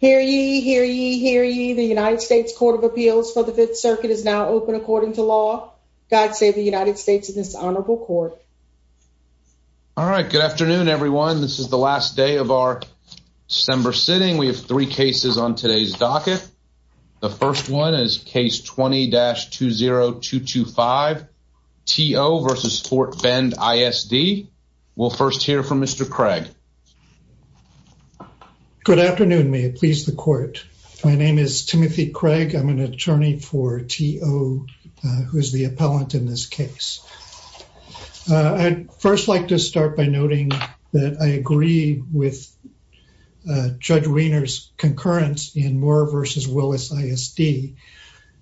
Hear ye, hear ye, hear ye. The United States Court of Appeals for the Fifth Circuit is now open according to law. God save the United States and this honorable court. All right. Good afternoon, everyone. This is the last day of our December sitting. We have three cases on today's docket. The first one is Case 20-20225, T.O. v. Fort Bend ISD. We'll first hear from Mr. Craig. Good afternoon. May it please the court. My name is Timothy Craig. I'm an attorney for T.O., who is the appellant in this case. I'd first like to start by noting that I agree with Judge Wiener's concurrence in Moore v. Willis ISD,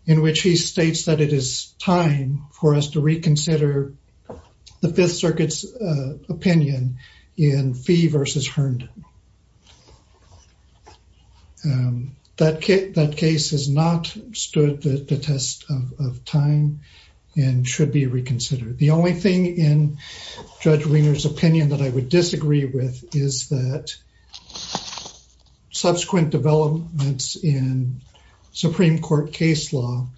in which he states that it is time for us to reconsider the Fifth Circuit's opinion in Fee v. Herndon. That case has not stood the test of time and should be reconsidered. The only thing in Judge Wiener's opinion that I would disagree with is that subsequent developments in Supreme Court case law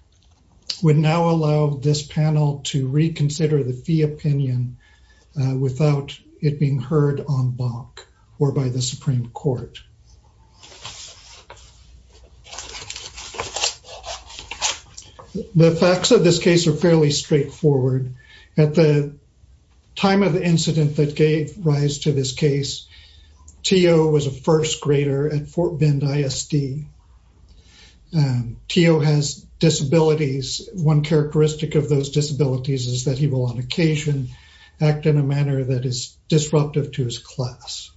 would now allow this panel to reconsider the fee opinion without it being heard on bonk or by the Supreme Court. The facts of this case are fairly straightforward. At the time of the incident that gave rise to this case, T.O. was a first grader at Fort Bend ISD. T.O. has disabilities. One characteristic of those disabilities is that he will on occasion act in a manner that is disruptive to his class.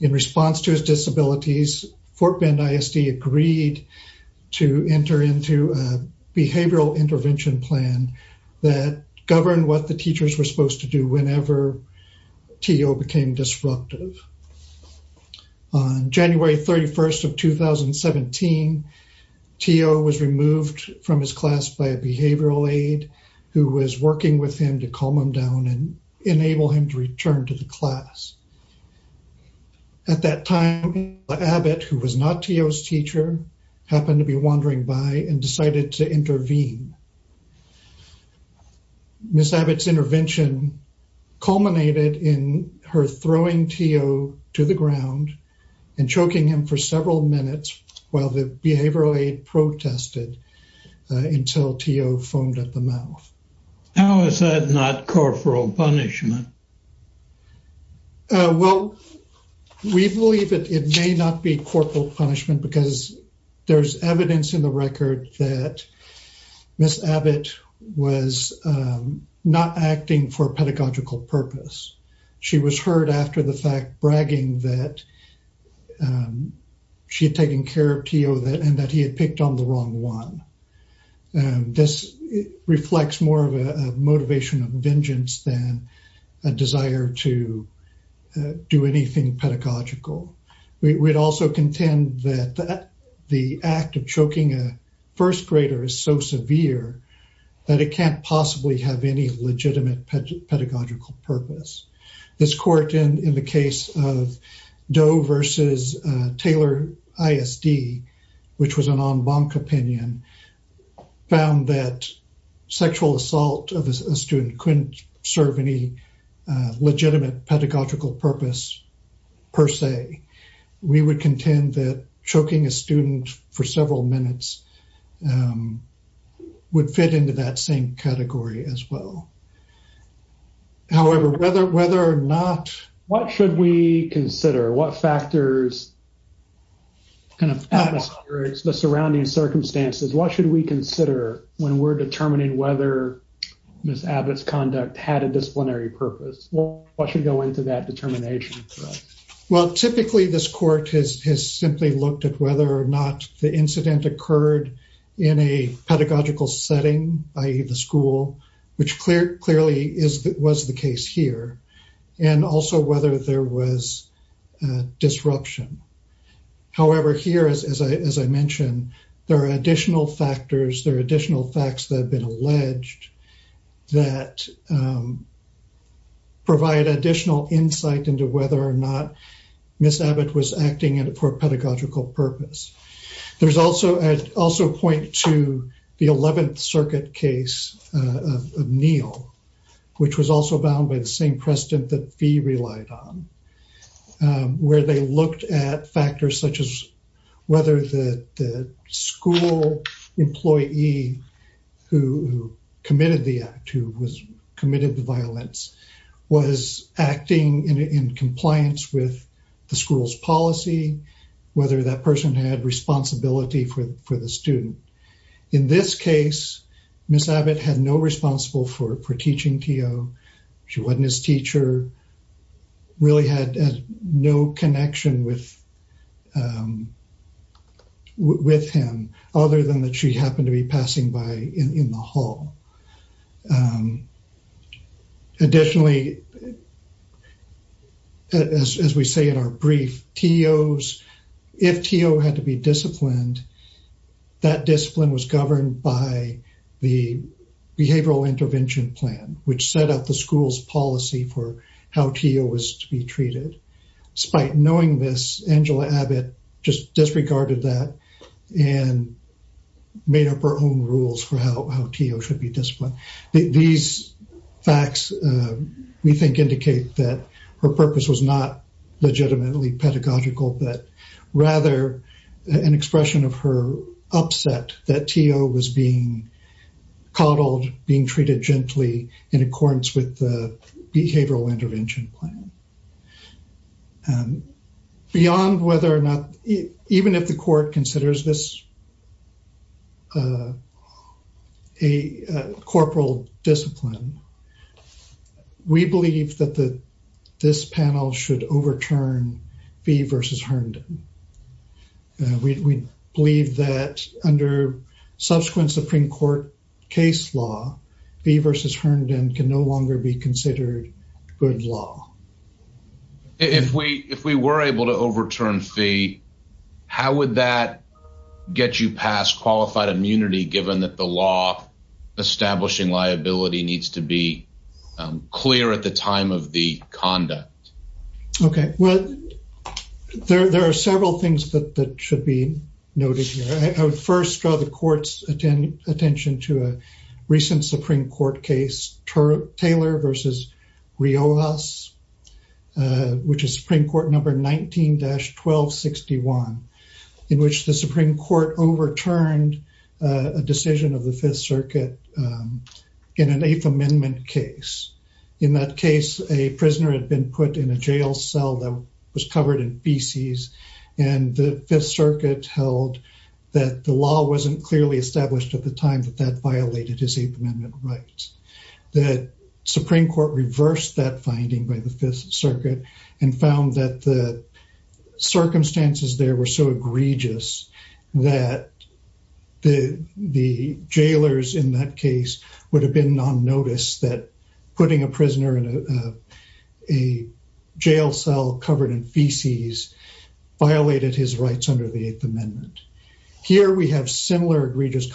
In response to his disabilities, Fort Bend ISD agreed to enter into a behavioral intervention plan that governed what the teachers were supposed to do whenever T.O. became disruptive. On January 31st of 2017, T.O. was removed from his class by a behavioral aide who was working with him to calm him down and enable him to return to the class. At that time, Abbot, who was not T.O.'s teacher, happened to be wandering by and decided to intervene. Ms. Abbott's intervention culminated in her throwing T.O. to the ground and choking him for several minutes while the behavioral aide protested until T.O. foamed at the mouth. How is that not corporal punishment? Well, we believe it may not be corporal punishment because there's evidence in the record that Ms. Abbott was not acting for pedagogical purpose. She was hurt after the fact, bragging that she had taken care of T.O. and that he had picked on the wrong one. This reflects more of a motivation of vengeance than a desire to do anything pedagogical. We would also contend that the act of choking a first grader is so severe that it can't possibly have any legitimate pedagogical purpose. This court, in the case of Doe v. Taylor ISD, which was an en banc opinion, found that sexual assault of a student couldn't serve any legitimate pedagogical purpose per se. We would contend that choking a student for several minutes would fit into that same category as well. However, whether or not... What should we consider? What factors, the surrounding circumstances, what should we consider when we're determining whether Ms. Abbott's conduct had a disciplinary purpose? What should go into that determination? Well, typically this court has simply looked at whether or not the incident occurred in a pedagogical setting, i.e. the school, which clearly was the case here, and also whether there was disruption. However, here, as I mentioned, there are additional factors, there are additional facts that have been alleged that provide additional insight into whether or not Ms. Abbott was acting for a pedagogical purpose. I'd also point to the 11th Circuit case of Neal, which was also bound by the same precedent that Fee relied on, where they looked at factors such as whether the school employee who committed the act, who committed the violence, was acting in compliance with the school's policy, whether that person had responsibility for the student. In this case, Ms. Abbott had no responsibility for teaching T.O. She wasn't his teacher, really had no connection with him, other than that she happened to be passing by in the hall. Additionally, as we say in our brief, if T.O. had to be disciplined, that discipline was governed by the Behavioral Intervention Plan, which set up the school's policy for how T.O. was to be treated. Despite knowing this, Angela Abbott just disregarded that and made up her own rules for how T.O. should be disciplined. These facts, we think, indicate that her purpose was not legitimately pedagogical, but rather an expression of her upset that T.O. was being coddled, being treated gently in accordance with the Behavioral Intervention Plan. Beyond whether or not, even if the court considers this a corporal discipline, we believe that this panel should overturn Fee v. Herndon. We believe that under subsequent Supreme Court case law, Fee v. Herndon can no longer be considered good law. If we were able to overturn Fee, how would that get you past qualified immunity, given that the law establishing liability needs to be clear at the time of the conduct? Okay, well, there are several things that should be noted here. I would first draw the court's attention to a recent Supreme Court case, Taylor v. Riojas, which is Supreme Court number 19-1261, in which the Supreme Court overturned a decision of the Fifth Circuit in an Eighth Amendment case. In that case, a prisoner had been put in a jail cell that was covered in feces, and the Fifth Circuit held that the law wasn't clearly established at the time that that violated his Eighth Amendment rights. The Supreme Court reversed that finding by the Fifth Circuit and found that the circumstances there were so egregious that the jailers in that case would have been non-noticed that putting a prisoner in a jail cell covered in feces violated his rights under the Eighth Amendment. Here we have similar egregious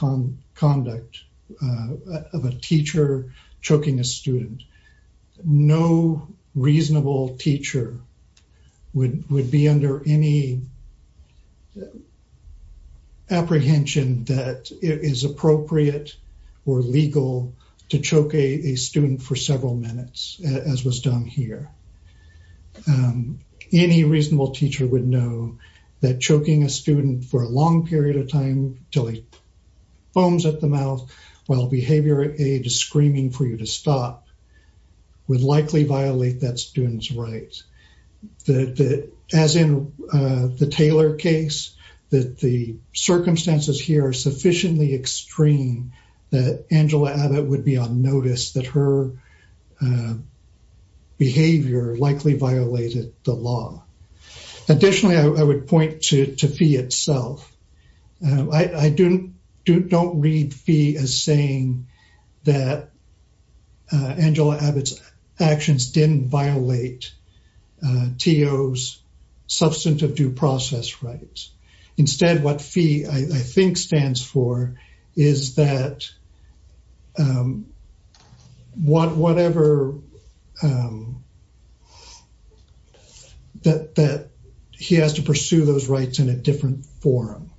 conduct of a teacher choking a student. No reasonable teacher would be under any apprehension that it is appropriate or legal to choke a student for several minutes, as was done here. Any reasonable teacher would know that choking a student for a long period of time until he foams at the mouth while behavior aid is screaming for you to stop would likely violate that student's rights. As in the Taylor case, that the circumstances here are sufficiently extreme that Angela Abbott would be on notice that her behavior likely violated the law. Additionally, I would point to Fee itself. I don't read Fee as saying that Angela Abbott's actions didn't violate TO's substantive due process rights. Instead, what Fee, I think, stands for is that he has to pursue those rights in a different forum.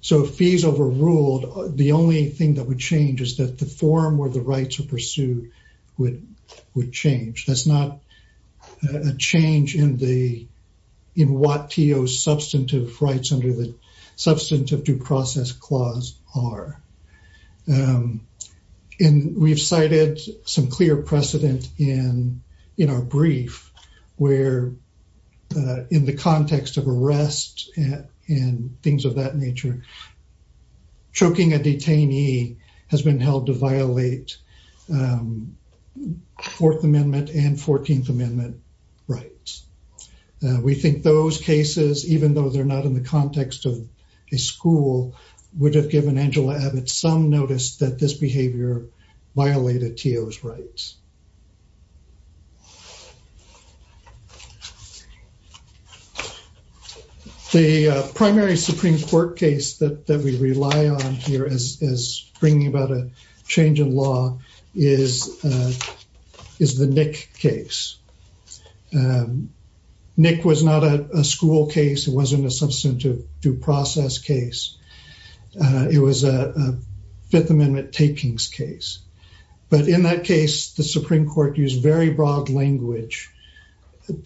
So if Fee's overruled, the only thing that would change is that the forum where the rights are pursued would change. That's not a change in what TO's substantive rights under the Substantive Due Process Clause are. And we've cited some clear precedent in our brief where, in the context of arrest and things of that nature, choking a detainee has been held to violate Fourth Amendment and Fourteenth Amendment rights. We think those cases, even though they're not in the context of a school, would have given Angela Abbott some notice that this behavior violated TO's rights. The primary Supreme Court case that we rely on here as bringing about a change in law is the Nick case. Nick was not a school case. It wasn't a substantive due process case. It was a Fifth Amendment takings case. But in that case, the Supreme Court used very broad language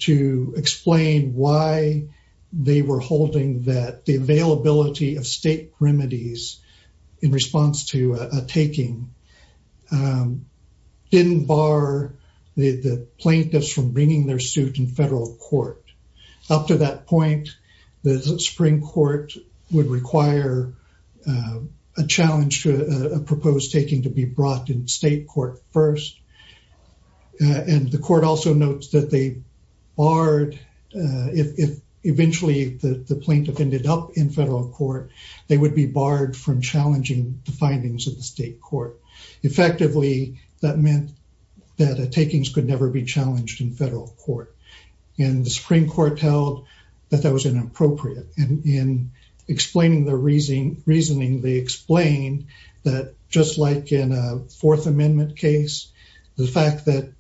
to explain why they were holding that the availability of state remedies in response to a taking didn't bar the plaintiffs from bringing their suit in federal court. Up to that point, the Supreme Court would require a challenge to a proposed taking to be brought in state court first. And the court also notes that they barred, if eventually the plaintiff ended up in federal court, they would be barred from challenging the findings of the state court. Effectively, that meant that takings could never be challenged in federal court. And the Supreme Court held that that was inappropriate. And in explaining their reasoning, they explained that just like in a Fourth Amendment case, the fact that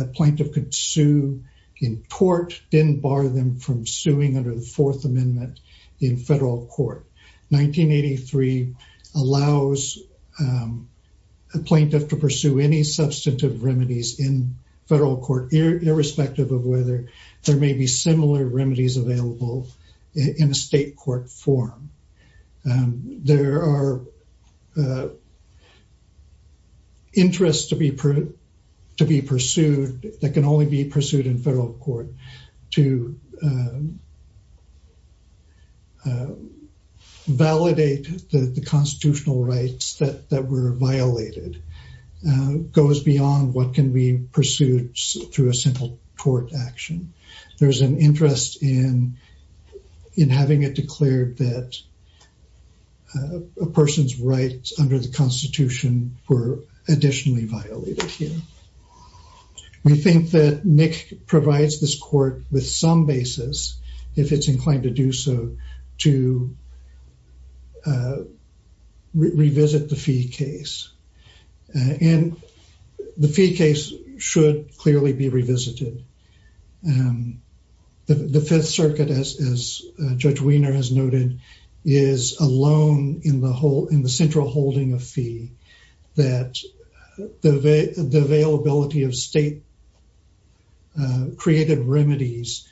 a plaintiff could sue in court didn't bar them from suing under the Fourth Amendment in federal court. 1983 allows a plaintiff to pursue any substantive remedies in federal court, irrespective of whether there may be similar remedies available in a state court form. There are interests to be pursued that can only be pursued in federal court. To validate the constitutional rights that were violated goes beyond what can be pursued through a simple court action. There's an interest in having it declared that a person's rights under the Constitution were additionally violated here. We think that Nick provides this court with some basis, if it's inclined to do so, to revisit the fee case. And the fee case should clearly be revisited. The Fifth Circuit, as Judge Wiener has noted, is alone in the central holding of fee that the availability of state-created remedies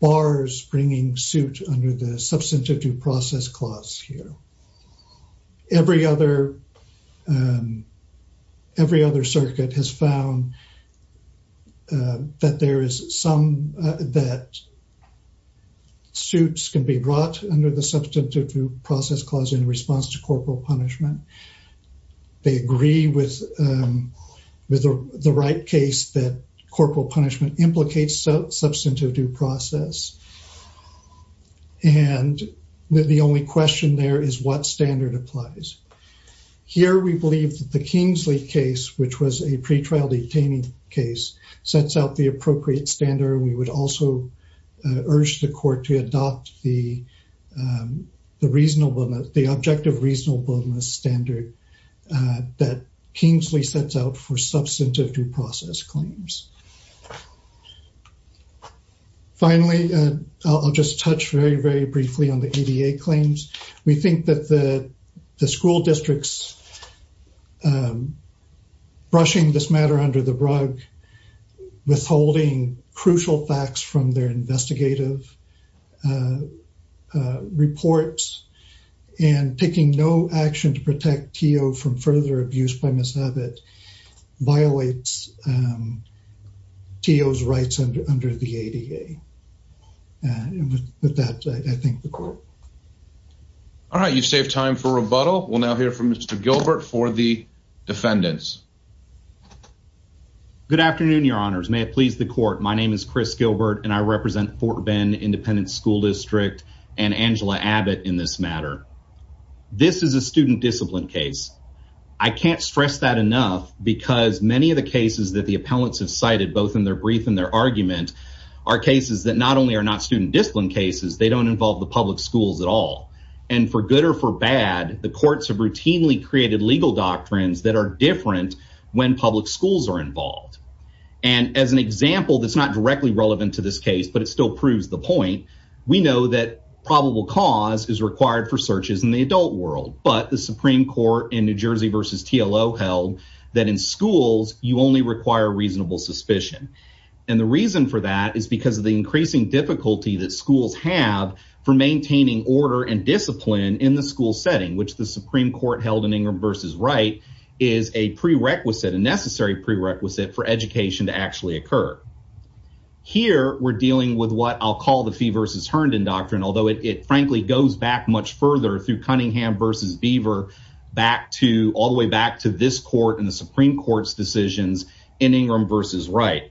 bars bringing suit under the Substantive Process Clause here. Every other circuit has found that suits can be brought under the Substantive Due Process Clause in response to corporal punishment. They agree with the right case that corporal punishment implicates substantive due process. And the only question there is what standard applies. Here we believe that the Kingsley case, which was a pretrial detainee case, sets out the appropriate standard. We would also urge the court to adopt the objective reasonableness standard that Kingsley sets out for substantive due process claims. Finally, I'll just touch very, very briefly on the ADA claims. We think that the school districts brushing this matter under the rug, withholding crucial facts from their investigative reports, and taking no action to protect T.O. from further abuse by mishap that violates T.O.'s rights under the ADA. And with that, I thank the court. All right, you've saved time for rebuttal. We'll now hear from Mr. Gilbert for the defendants. Good afternoon, your honors. May it please the court. My name is Chris Gilbert, and I represent Fort Bend Independent School District and Angela Abbott in this matter. This is a student discipline case. I can't stress that enough because many of the cases that the appellants have cited, both in their brief and their argument, are cases that not only are not student discipline cases, they don't involve the public schools at all. And for good or for bad, the courts have routinely created legal doctrines that are different when public schools are involved. And as an example that's not directly relevant to this case, but it still proves the point, we know that probable cause is required for searches in the adult world. But the Supreme Court in New Jersey v. TLO held that in schools, you only require reasonable suspicion. And the reason for that is because of the increasing difficulty that schools have for maintaining order and discipline in the school setting, which the Supreme Court held in Ingram v. Wright is a prerequisite, a necessary prerequisite for education to actually occur. Here, we're dealing with what I'll call the Fee v. Herndon doctrine, although it frankly goes back much further through Cunningham v. Beaver, all the way back to this court and the Supreme Court's decisions in Ingram v. Wright.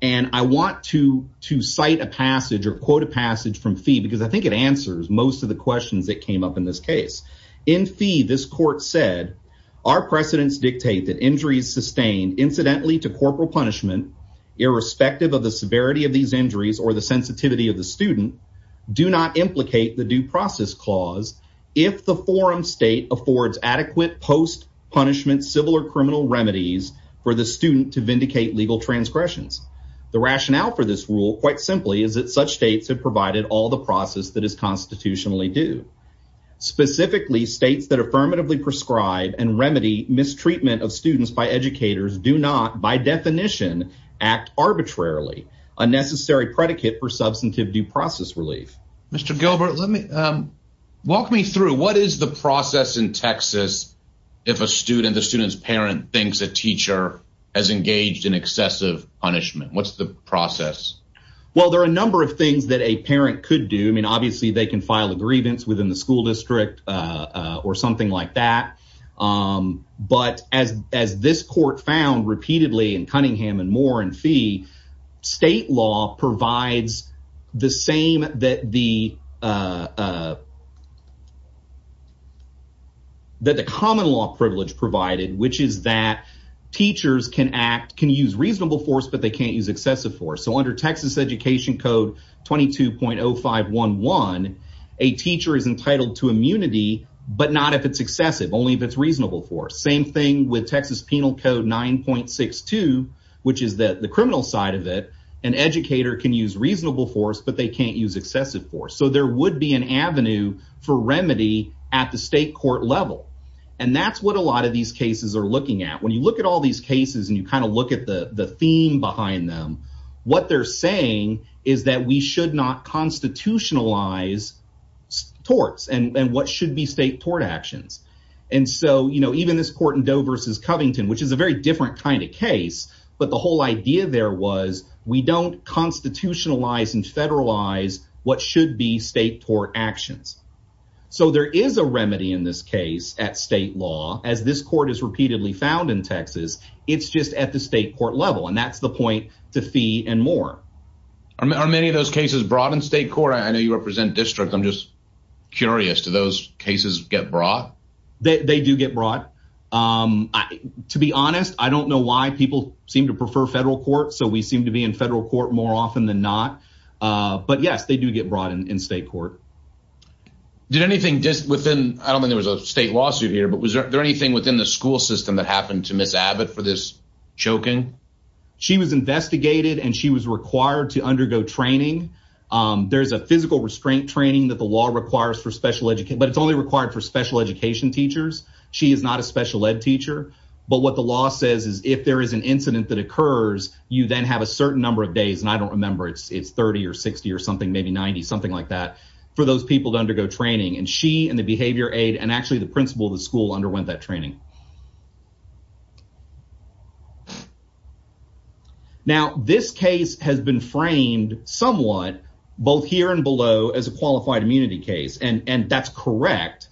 And I want to cite a passage or quote a passage from Fee because I think it answers most of the questions that came up in this case. In Fee, this court said, Our precedents dictate that injuries sustained incidentally to corporal punishment, irrespective of the severity of these injuries or the sensitivity of the student, do not implicate the due process clause if the forum state affords adequate post punishment, civil or criminal remedies for the student to vindicate legal transgressions. The rationale for this rule, quite simply, is that such states have provided all the process that is constitutionally due. Specifically, states that affirmatively prescribe and remedy mistreatment of students by educators do not, by definition, act arbitrarily, a necessary predicate for substantive due process relief. Mr. Gilbert, walk me through. What is the process in Texas if a student, the student's parent, thinks a teacher has engaged in excessive punishment? What's the process? Well, there are a number of things that a parent could do. I mean, obviously, they can file a grievance within the school district or something like that. But as as this court found repeatedly in Cunningham and Moore and Fee, state law provides the same that the. That the common law privilege provided, which is that teachers can act, can use reasonable force, but they can't use excessive force. So under Texas Education Code 22.0511, a teacher is entitled to immunity, but not if it's excessive, only if it's reasonable for same thing with Texas Penal Code 9.62, which is that the criminal side of it, an educator can use reasonable force, but they can't use excessive force. So there would be an avenue for remedy at the state court level. And that's what a lot of these cases are looking at. When you look at all these cases and you kind of look at the theme behind them, what they're saying is that we should not constitutionalize torts and what should be state tort actions. And so, you know, even this court in Doe versus Covington, which is a very different kind of case. But the whole idea there was we don't constitutionalize and federalize what should be state tort actions. So there is a remedy in this case at state law, as this court is repeatedly found in Texas. It's just at the state court level. And that's the point to fee and more. Are many of those cases brought in state court? I know you represent district. I'm just curious to those cases get brought. They do get brought. To be honest, I don't know why people seem to prefer federal court. So we seem to be in federal court more often than not. But, yes, they do get brought in state court. Did anything just within I don't mean there was a state lawsuit here, but was there anything within the school system that happened to Miss Abbott for this choking? She was investigated and she was required to undergo training. There is a physical restraint training that the law requires for special education, but it's only required for special education teachers. She is not a special ed teacher. But what the law says is if there is an incident that occurs, you then have a certain number of days. And I don't remember it's 30 or 60 or something, maybe 90, something like that for those people to undergo training. And she and the behavior aid and actually the principal of the school underwent that training. Now, this case has been framed somewhat both here and below as a qualified immunity case, and that's correct.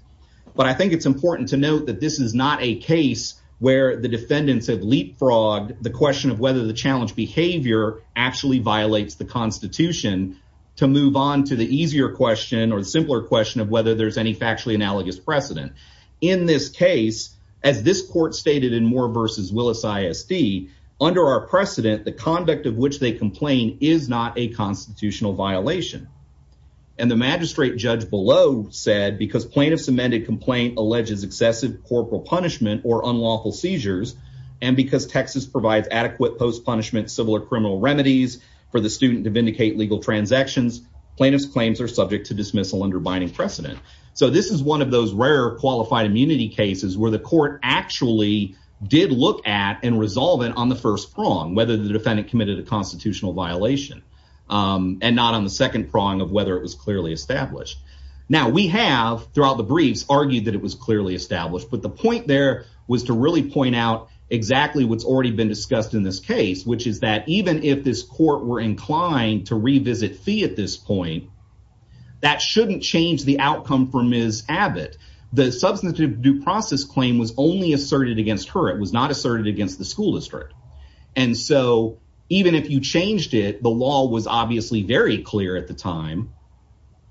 But I think it's important to note that this is not a case where the defendants have leapfrogged the question of whether the challenge behavior actually violates the Constitution to move on to the easier question or the simpler question of whether there's any factually analogous precedent. In this case, as this court stated in Moore versus Willis ISD, under our precedent, the conduct of which they complain is not a constitutional violation. And the magistrate judge below said because plaintiff's amended complaint alleges excessive corporal punishment or unlawful seizures. And because Texas provides adequate post-punishment civil or criminal remedies for the student to vindicate legal transactions, plaintiff's claims are subject to dismissal under binding precedent. So this is one of those rare qualified immunity cases where the court actually did look at and resolve it on the first prong, whether the defendant committed a constitutional violation and not on the second prong of whether it was clearly established. Now, we have, throughout the briefs, argued that it was clearly established, but the point there was to really point out exactly what's already been discussed in this case, which is that even if this court were inclined to revisit fee at this point, that shouldn't change the outcome for Ms. Abbott. The substantive due process claim was only asserted against her. It was not asserted against the school district. And so even if you changed it, the law was obviously very clear at the time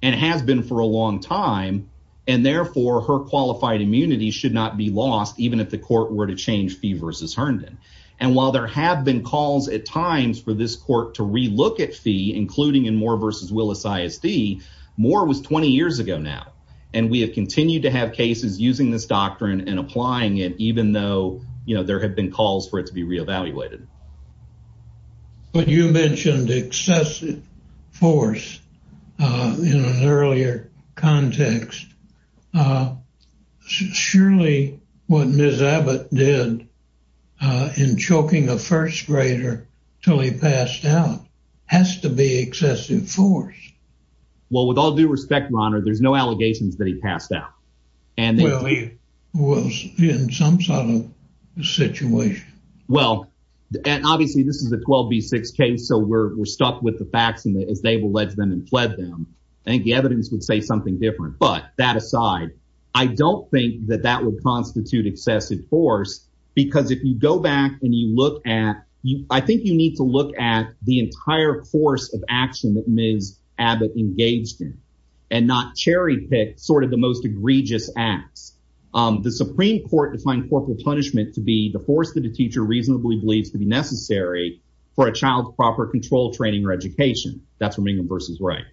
and has been for a long time. And therefore, her qualified immunity should not be lost, even if the court were to change fee versus Herndon. And while there have been calls at times for this court to relook at fee, including in Moore versus Willis ISD, Moore was 20 years ago now. And we have continued to have cases using this doctrine and applying it, even though there have been calls for it to be reevaluated. But you mentioned excessive force in an earlier context. Surely what Ms. Abbott did in choking a first grader until he passed out has to be excessive force. Well, with all due respect, Your Honor, there's no allegations that he passed out. Well, he was in some sort of situation. Well, obviously, this is a 12B6 case, so we're stuck with the facts as they will let them and plead them. And the evidence would say something different. But that aside, I don't think that that would constitute excessive force. Because if you go back and you look at you, I think you need to look at the entire force of action that Ms. Abbott engaged in and not cherry pick sort of the most egregious acts. The Supreme Court defined corporal punishment to be the force that a teacher reasonably believes to be necessary for a child's proper control training or education. That's what Mingum versus Wright.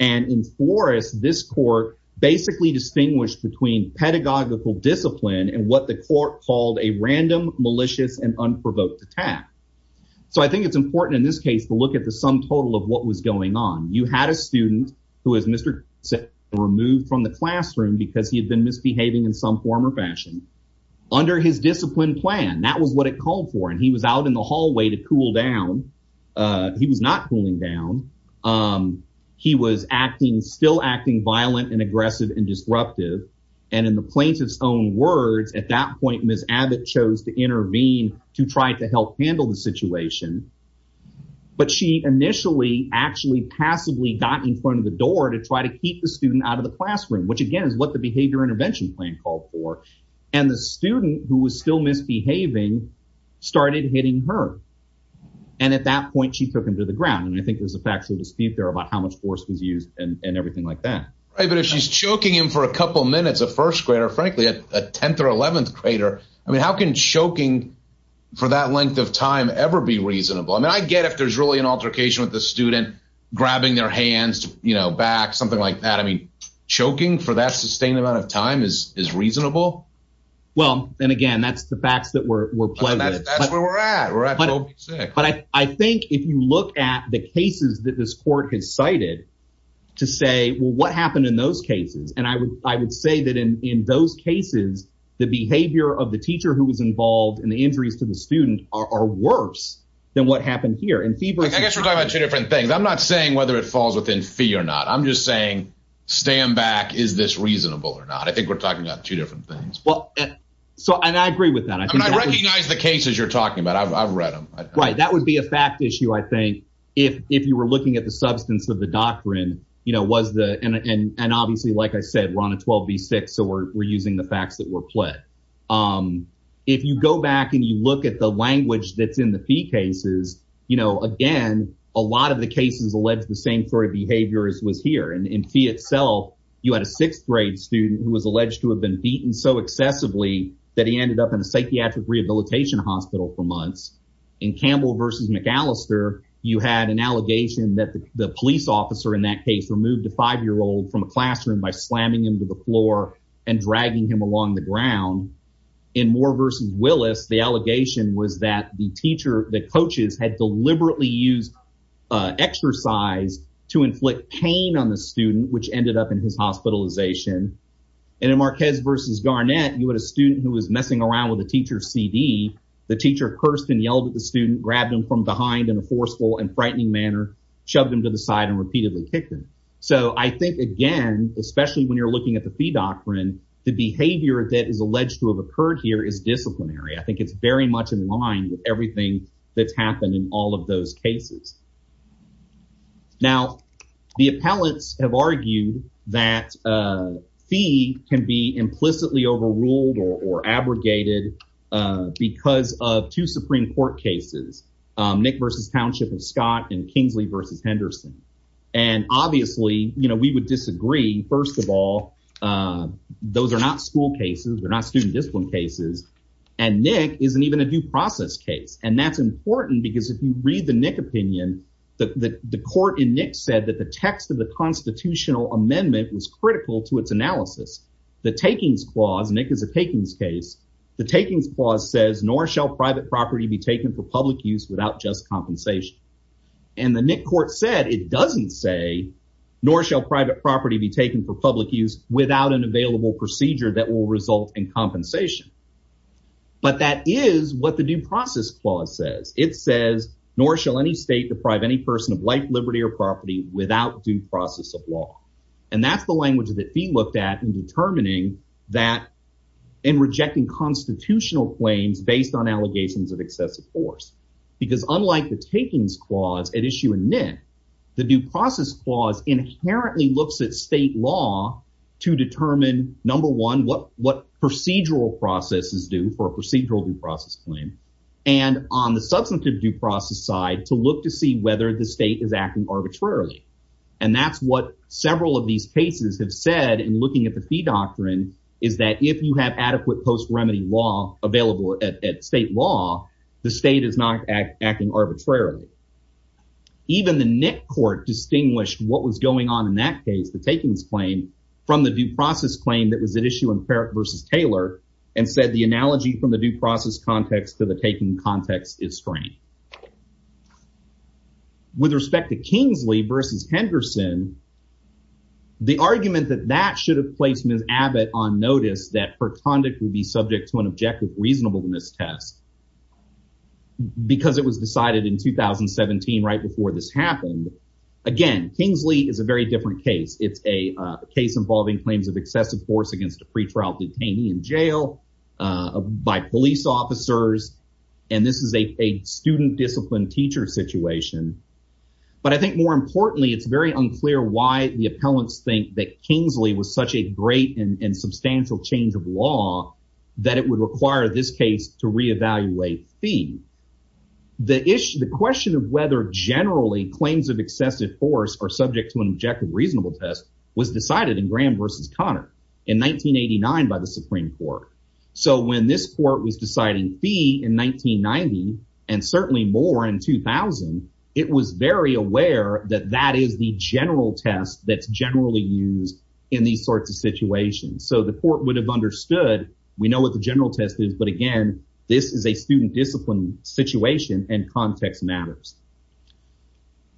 And in Flores, this court basically distinguished between pedagogical discipline and what the court called a random, malicious and unprovoked attack. So I think it's important in this case to look at the sum total of what was going on. You had a student who is Mr. removed from the classroom because he had been misbehaving in some form or fashion under his discipline plan. That was what it called for. And he was out in the hallway to cool down. He was not cooling down. He was acting still acting violent and aggressive and disruptive. And in the plaintiff's own words, at that point, Ms. Abbott chose to intervene to try to help handle the situation. But she initially actually passively got in front of the door to try to keep the student out of the classroom, which, again, is what the behavior intervention plan called for. And the student who was still misbehaving started hitting her. And at that point, she took him to the ground. And I think there's a factual dispute there about how much force was used and everything like that. But if she's choking him for a couple of minutes, a first grader, frankly, a 10th or 11th grader. I mean, how can choking for that length of time ever be reasonable? I mean, I get if there's really an altercation with the student grabbing their hands, you know, back, something like that. I mean, choking for that sustained amount of time is is reasonable. Well, then again, that's the facts that we're playing. That's where we're at. But I think if you look at the cases that this court has cited to say, well, what happened in those cases? And I would I would say that in those cases, the behavior of the teacher who was involved in the injuries to the student are worse than what happened here. And I guess we're talking about two different things. I'm not saying whether it falls within fee or not. I'm just saying stand back. Is this reasonable or not? I think we're talking about two different things. Well, so and I agree with that. I mean, I recognize the cases you're talking about. I've read them. Right. That would be a fact issue, I think, if if you were looking at the substance of the doctrine, you know, was the. And obviously, like I said, we're on a 12 v six. So we're using the facts that were played. If you go back and you look at the language that's in the fee cases, you know, again, a lot of the cases allege the same three behaviors was here. And in fee itself, you had a sixth grade student who was alleged to have been beaten so excessively that he ended up in a psychiatric rehabilitation hospital for months. In Campbell versus McAllister, you had an allegation that the police officer in that case removed a five year old from a classroom by slamming him to the floor and dragging him along the ground. In Moore versus Willis, the allegation was that the teacher, the coaches had deliberately used exercise to inflict pain on the student, which ended up in his hospitalization. And in Marquez versus Garnett, you had a student who was messing around with a teacher CD. The teacher cursed and yelled at the student, grabbed him from behind in a forceful and frightening manner, shoved him to the side and repeatedly kicked him. So I think, again, especially when you're looking at the doctrine, the behavior that is alleged to have occurred here is disciplinary. I think it's very much in line with everything that's happened in all of those cases. Now, the appellants have argued that fee can be implicitly overruled or abrogated because of two Supreme Court cases, Nick versus Township and Scott and Kingsley versus Henderson. And obviously, you know, we would disagree. First of all, those are not school cases. They're not student discipline cases. And Nick isn't even a due process case. And that's important because if you read the Nick opinion, the court in Nick said that the text of the constitutional amendment was critical to its analysis. The takings clause Nick is a takings case. The takings clause says nor shall private property be taken for public use without just compensation. And the Nick court said it doesn't say nor shall private property be taken for public use without an available procedure that will result in compensation. But that is what the due process clause says. It says nor shall any state deprive any person of life, liberty or property without due process of law. And that's the language that fee looked at in determining that in rejecting constitutional claims based on allegations of excessive force. Because unlike the takings clause at issue in Nick, the due process clause inherently looks at state law to determine, number one, what procedural process is due for a procedural due process claim and on the substantive due process side to look to see whether the state is acting arbitrarily. And that's what several of these cases have said in looking at the fee doctrine, is that if you have adequate post remedy law available at state law, the state is not acting arbitrarily. Even the Nick court distinguished what was going on in that case, the takings claim from the due process claim that was at issue in Carrick versus Taylor and said the analogy from the due process context to the taking context is strange. With respect to Kingsley versus Henderson. The argument that that should have placed Miss Abbott on notice that her conduct would be subject to an objective reasonable in this test. Because it was decided in 2017 right before this happened. Again, Kingsley is a very different case. It's a case involving claims of excessive force against a pretrial detainee in jail by police officers. And this is a student discipline teacher situation. But I think more importantly, it's very unclear why the appellants think that Kingsley was such a great and substantial change of law that it would require this case to reevaluate fee. The issue, the question of whether generally claims of excessive force are subject to an objective reasonable test was decided in Graham versus Connor in 1989 by the Supreme Court. So when this court was deciding fee in 1990 and certainly more in 2000, it was very aware that that is the general test that's generally used in these sorts of situations. So the court would have understood. We know what the general test is. But again, this is a student discipline situation and context matters.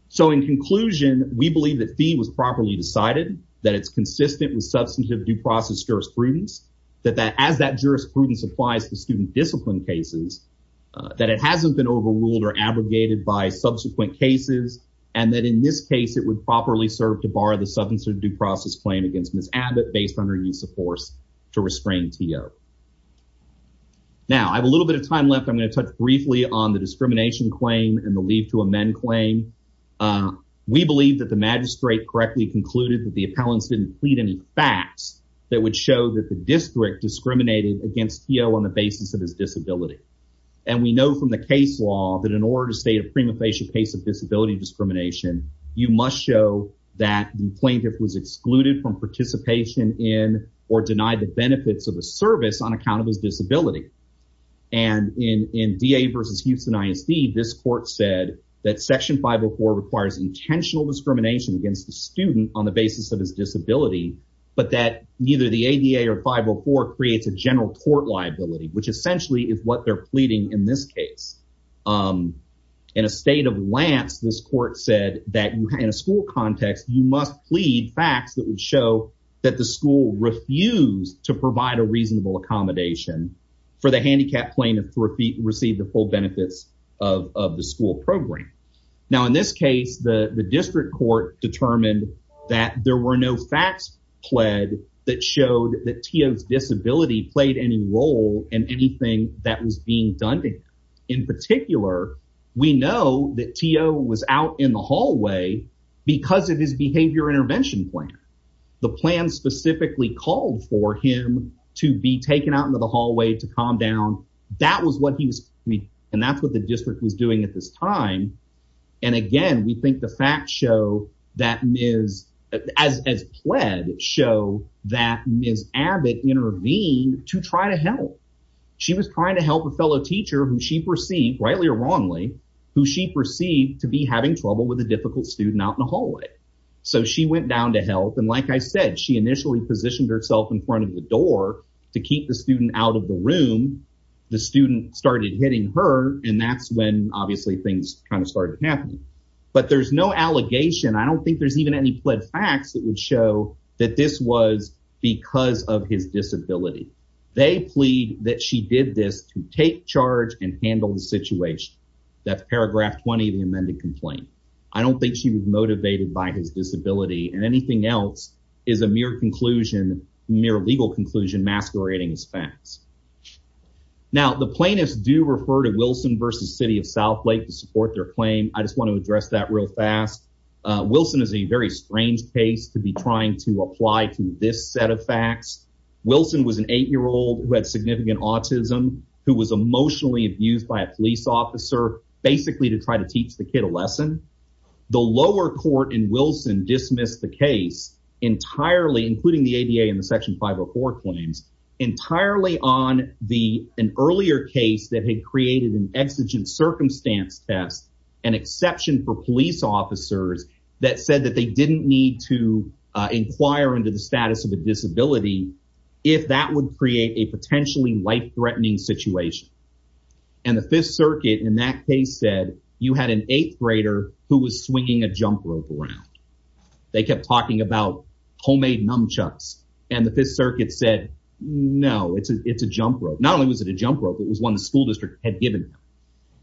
So in conclusion, we believe that fee was properly decided, that it's consistent with substantive due process jurisprudence, that that as that jurisprudence applies to student discipline cases, that it hasn't been overruled or abrogated by subsequent cases. And that in this case, it would properly serve to bar the substance of due process claim against Miss Abbott based on her use of force to restrain to. Now, I have a little bit of time left. I'm going to touch briefly on the discrimination claim and the leave to amend claim. We believe that the magistrate correctly concluded that the appellants didn't plead any facts that would show that the district discriminated against on the basis of his disability. And we know from the case law that in order to state a prima facie case of disability discrimination, you must show that the plaintiff was excluded from participation in or denied the benefits of a service on account of his disability. And in D.A. versus Houston ISD, this court said that Section 504 requires intentional discrimination against the student on the basis of his disability, but that neither the ADA or 504 creates a general court liability, which essentially is what they're pleading in this case. In a state of Lance, this court said that in a school context, you must plead facts that would show that the school refused to provide a reasonable accommodation for the handicapped plaintiff to receive the full benefits of the school program. Now, in this case, the district court determined that there were no facts pled that showed that T.O.'s disability played any role in anything that was being done to him. In particular, we know that T.O. was out in the hallway because of his behavior intervention plan. The plan specifically called for him to be taken out into the hallway to calm down. That was what he was, and that's what the district was doing at this time. And again, we think the facts show that Ms., as pled, show that Ms. Abbott intervened to try to help. She was trying to help a fellow teacher who she perceived, rightly or wrongly, who she perceived to be having trouble with a difficult student out in the hallway. So she went down to help, and like I said, she initially positioned herself in front of the door to keep the student out of the room. The student started hitting her, and that's when, obviously, things kind of started happening. But there's no allegation. I don't think there's even any pled facts that would show that this was because of his disability. They plead that she did this to take charge and handle the situation. That's paragraph 20 of the amended complaint. I don't think she was motivated by his disability, and anything else is a mere conclusion, mere legal conclusion masquerading as facts. Now, the plaintiffs do refer to Wilson v. City of Southlake to support their claim. I just want to address that real fast. Wilson is a very strange case to be trying to apply to this set of facts. Wilson was an 8-year-old who had significant autism who was emotionally abused by a police officer basically to try to teach the kid a lesson. The lower court in Wilson dismissed the case entirely, including the ADA and the Section 504 claims, entirely on an earlier case that had created an exigent circumstance test, an exception for police officers that said that they didn't need to inquire into the status of a disability if that would create a potentially life-threatening situation. And the Fifth Circuit in that case said, you had an 8th grader who was swinging a jump rope around. They kept talking about homemade nunchucks, and the Fifth Circuit said, no, it's a jump rope. Not only was it a jump rope, it was one the school district had given them.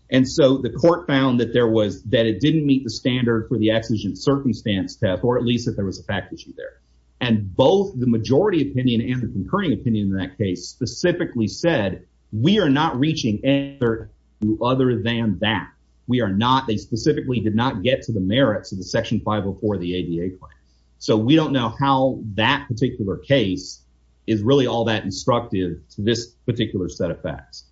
And so the court found that there was – that it didn't meet the standard for the exigent circumstance test, or at least that there was a fact issue there. And both the majority opinion and the concurring opinion in that case specifically said, we are not reaching anything other than that. We are not – they specifically did not get to the merits of the Section 504 of the ADA claim. So we don't know how that particular case is really all that instructive to this particular set of facts.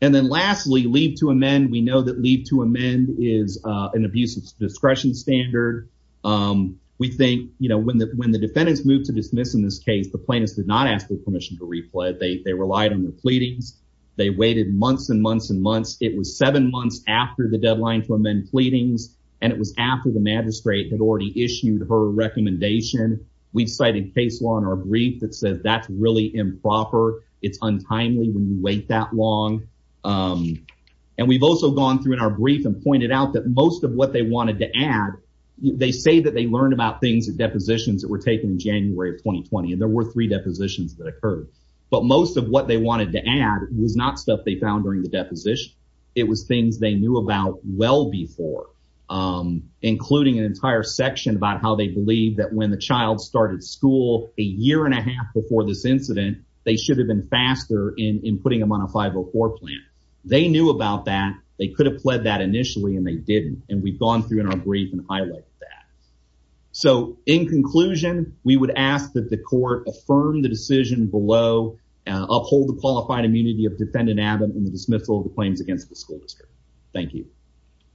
And then lastly, leave to amend, we know that leave to amend is an abuse of discretion standard. We think when the defendants moved to dismiss in this case, the plaintiffs did not ask for permission to replay it. They relied on the pleadings. They waited months and months and months. It was seven months after the deadline to amend pleadings, and it was after the magistrate had already issued her recommendation. We've cited case law in our brief that says that's really improper. It's untimely when you wait that long. And we've also gone through in our brief and pointed out that most of what they wanted to add, they say that they learned about things, depositions that were taken in January of 2020, and there were three depositions that occurred. But most of what they wanted to add was not stuff they found during the deposition. It was things they knew about well before, including an entire section about how they believe that when the child started school a year and a half before this incident, they should have been faster in putting them on a 504 plan. They knew about that. They could have pled that initially, and they didn't. And we've gone through in our brief and highlighted that. So, in conclusion, we would ask that the court affirm the decision below, uphold the qualified immunity of Defendant Abbott and the dismissal of the claims against the school district. Thank you.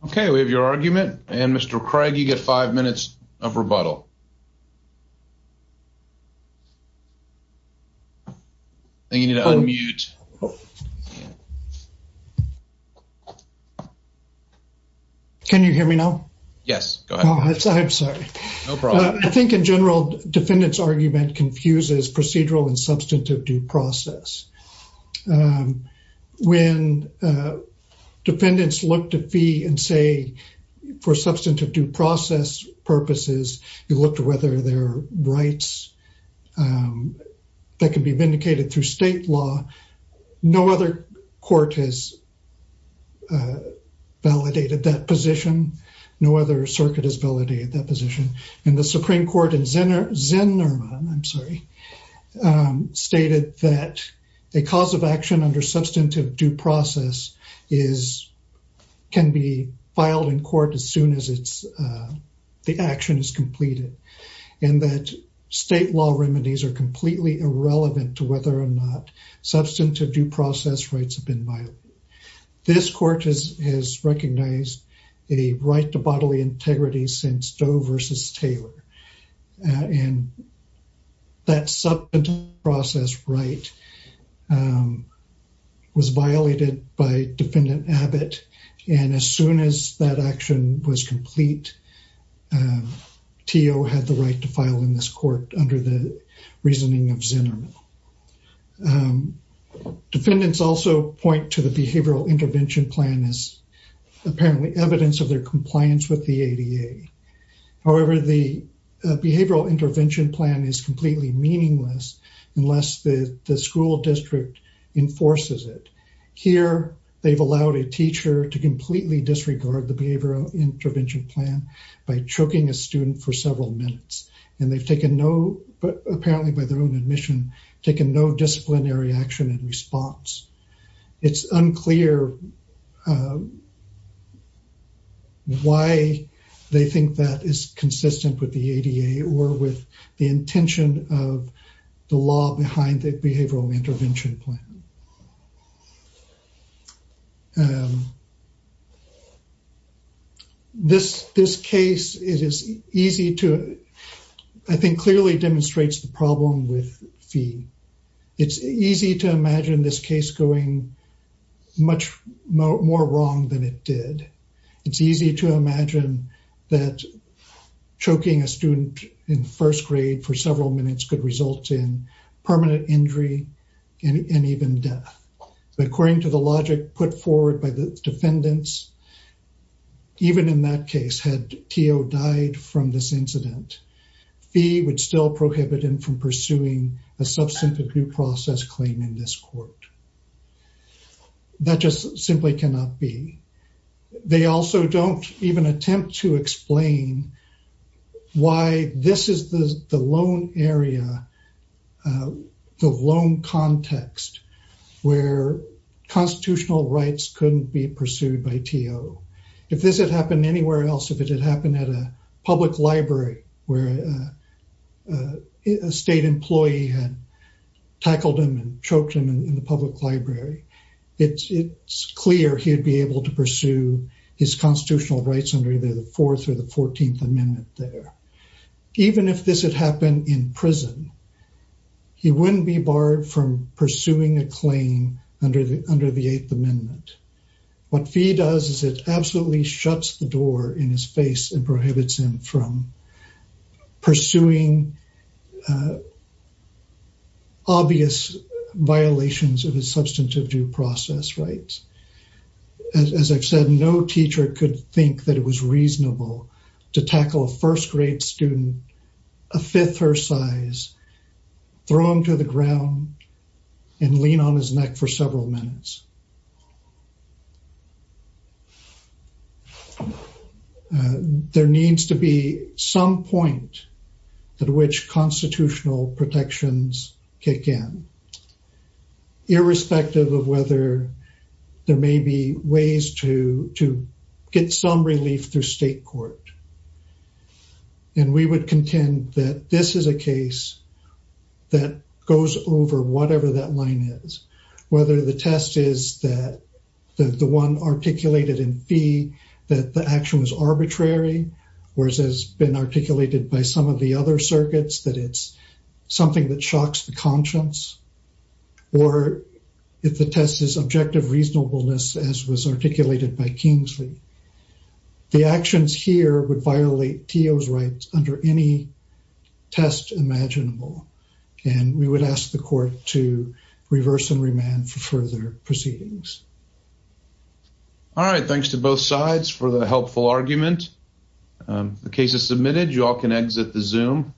Okay, we have your argument, and Mr. Craig, you get five minutes of rebuttal. And you need to unmute. Can you hear me now? Yes, go ahead. I'm sorry. No problem. I think in general, defendants' argument confuses procedural and substantive due process. When defendants look to fee and say for substantive due process purposes, you look to whether there are rights that can be vindicated through state law. No other court has validated that position. No other circuit has validated that position. And the Supreme Court in Zinnerman stated that a cause of action under substantive due process can be filed in court as soon as the action is completed. And that state law remedies are completely irrelevant to whether or not substantive due process rights have been violated. This court has recognized a right to bodily integrity since Doe v. Taylor. And that substantive due process right was violated by Defendant Abbott, and as soon as that action was complete, TO had the right to file in this court under the reasoning of Zinnerman. Defendants also point to the Behavioral Intervention Plan as apparently evidence of their compliance with the ADA. However, the Behavioral Intervention Plan is completely meaningless unless the school district enforces it. Here, they've allowed a teacher to completely disregard the Behavioral Intervention Plan by choking a student for several minutes. And they've taken no, apparently by their own admission, taken no disciplinary action in response. It's unclear why they think that is consistent with the ADA or with the intention of the law behind the Behavioral Intervention Plan. This case, it is easy to, I think, clearly demonstrates the problem with fee. It's easy to imagine this case going much more wrong than it did. It's easy to imagine that choking a student in first grade for several minutes could result in permanent injury and even death. But according to the logic put forward by the defendants, even in that case, had TO died from this incident, fee would still prohibit him from pursuing a substantive due process claim in this court. That just simply cannot be. They also don't even attempt to explain why this is the lone area, the lone context where constitutional rights couldn't be pursued by TO. If this had happened anywhere else, if it had happened at a public library where a state employee had tackled him and choked him in the public library, it's clear he'd be able to pursue his constitutional rights under either the 4th or the 14th Amendment there. Even if this had happened in prison, he wouldn't be barred from pursuing a claim under the 8th Amendment. What fee does is it absolutely shuts the door in his face and prohibits him from pursuing obvious violations of his substantive due process rights. As I've said, no teacher could think that it was reasonable to tackle a first grade student, a fifth her size, throw him to the ground and lean on his neck for several minutes. There needs to be some point at which constitutional protections kick in, irrespective of whether there may be ways to get some relief through state court. And we would contend that this is a case that goes over whatever that line is, whether the test is that the one articulated in fee, that the action was arbitrary, whereas has been articulated by some of the other circuits, that it's something that shocks the conscience. Or if the test is objective reasonableness, as was articulated by Kingsley, the actions here would violate Tio's rights under any test imaginable. And we would ask the court to reverse and remand for further proceedings. All right. Thanks to both sides for the helpful argument. The case is submitted. You all can exit the Zoom.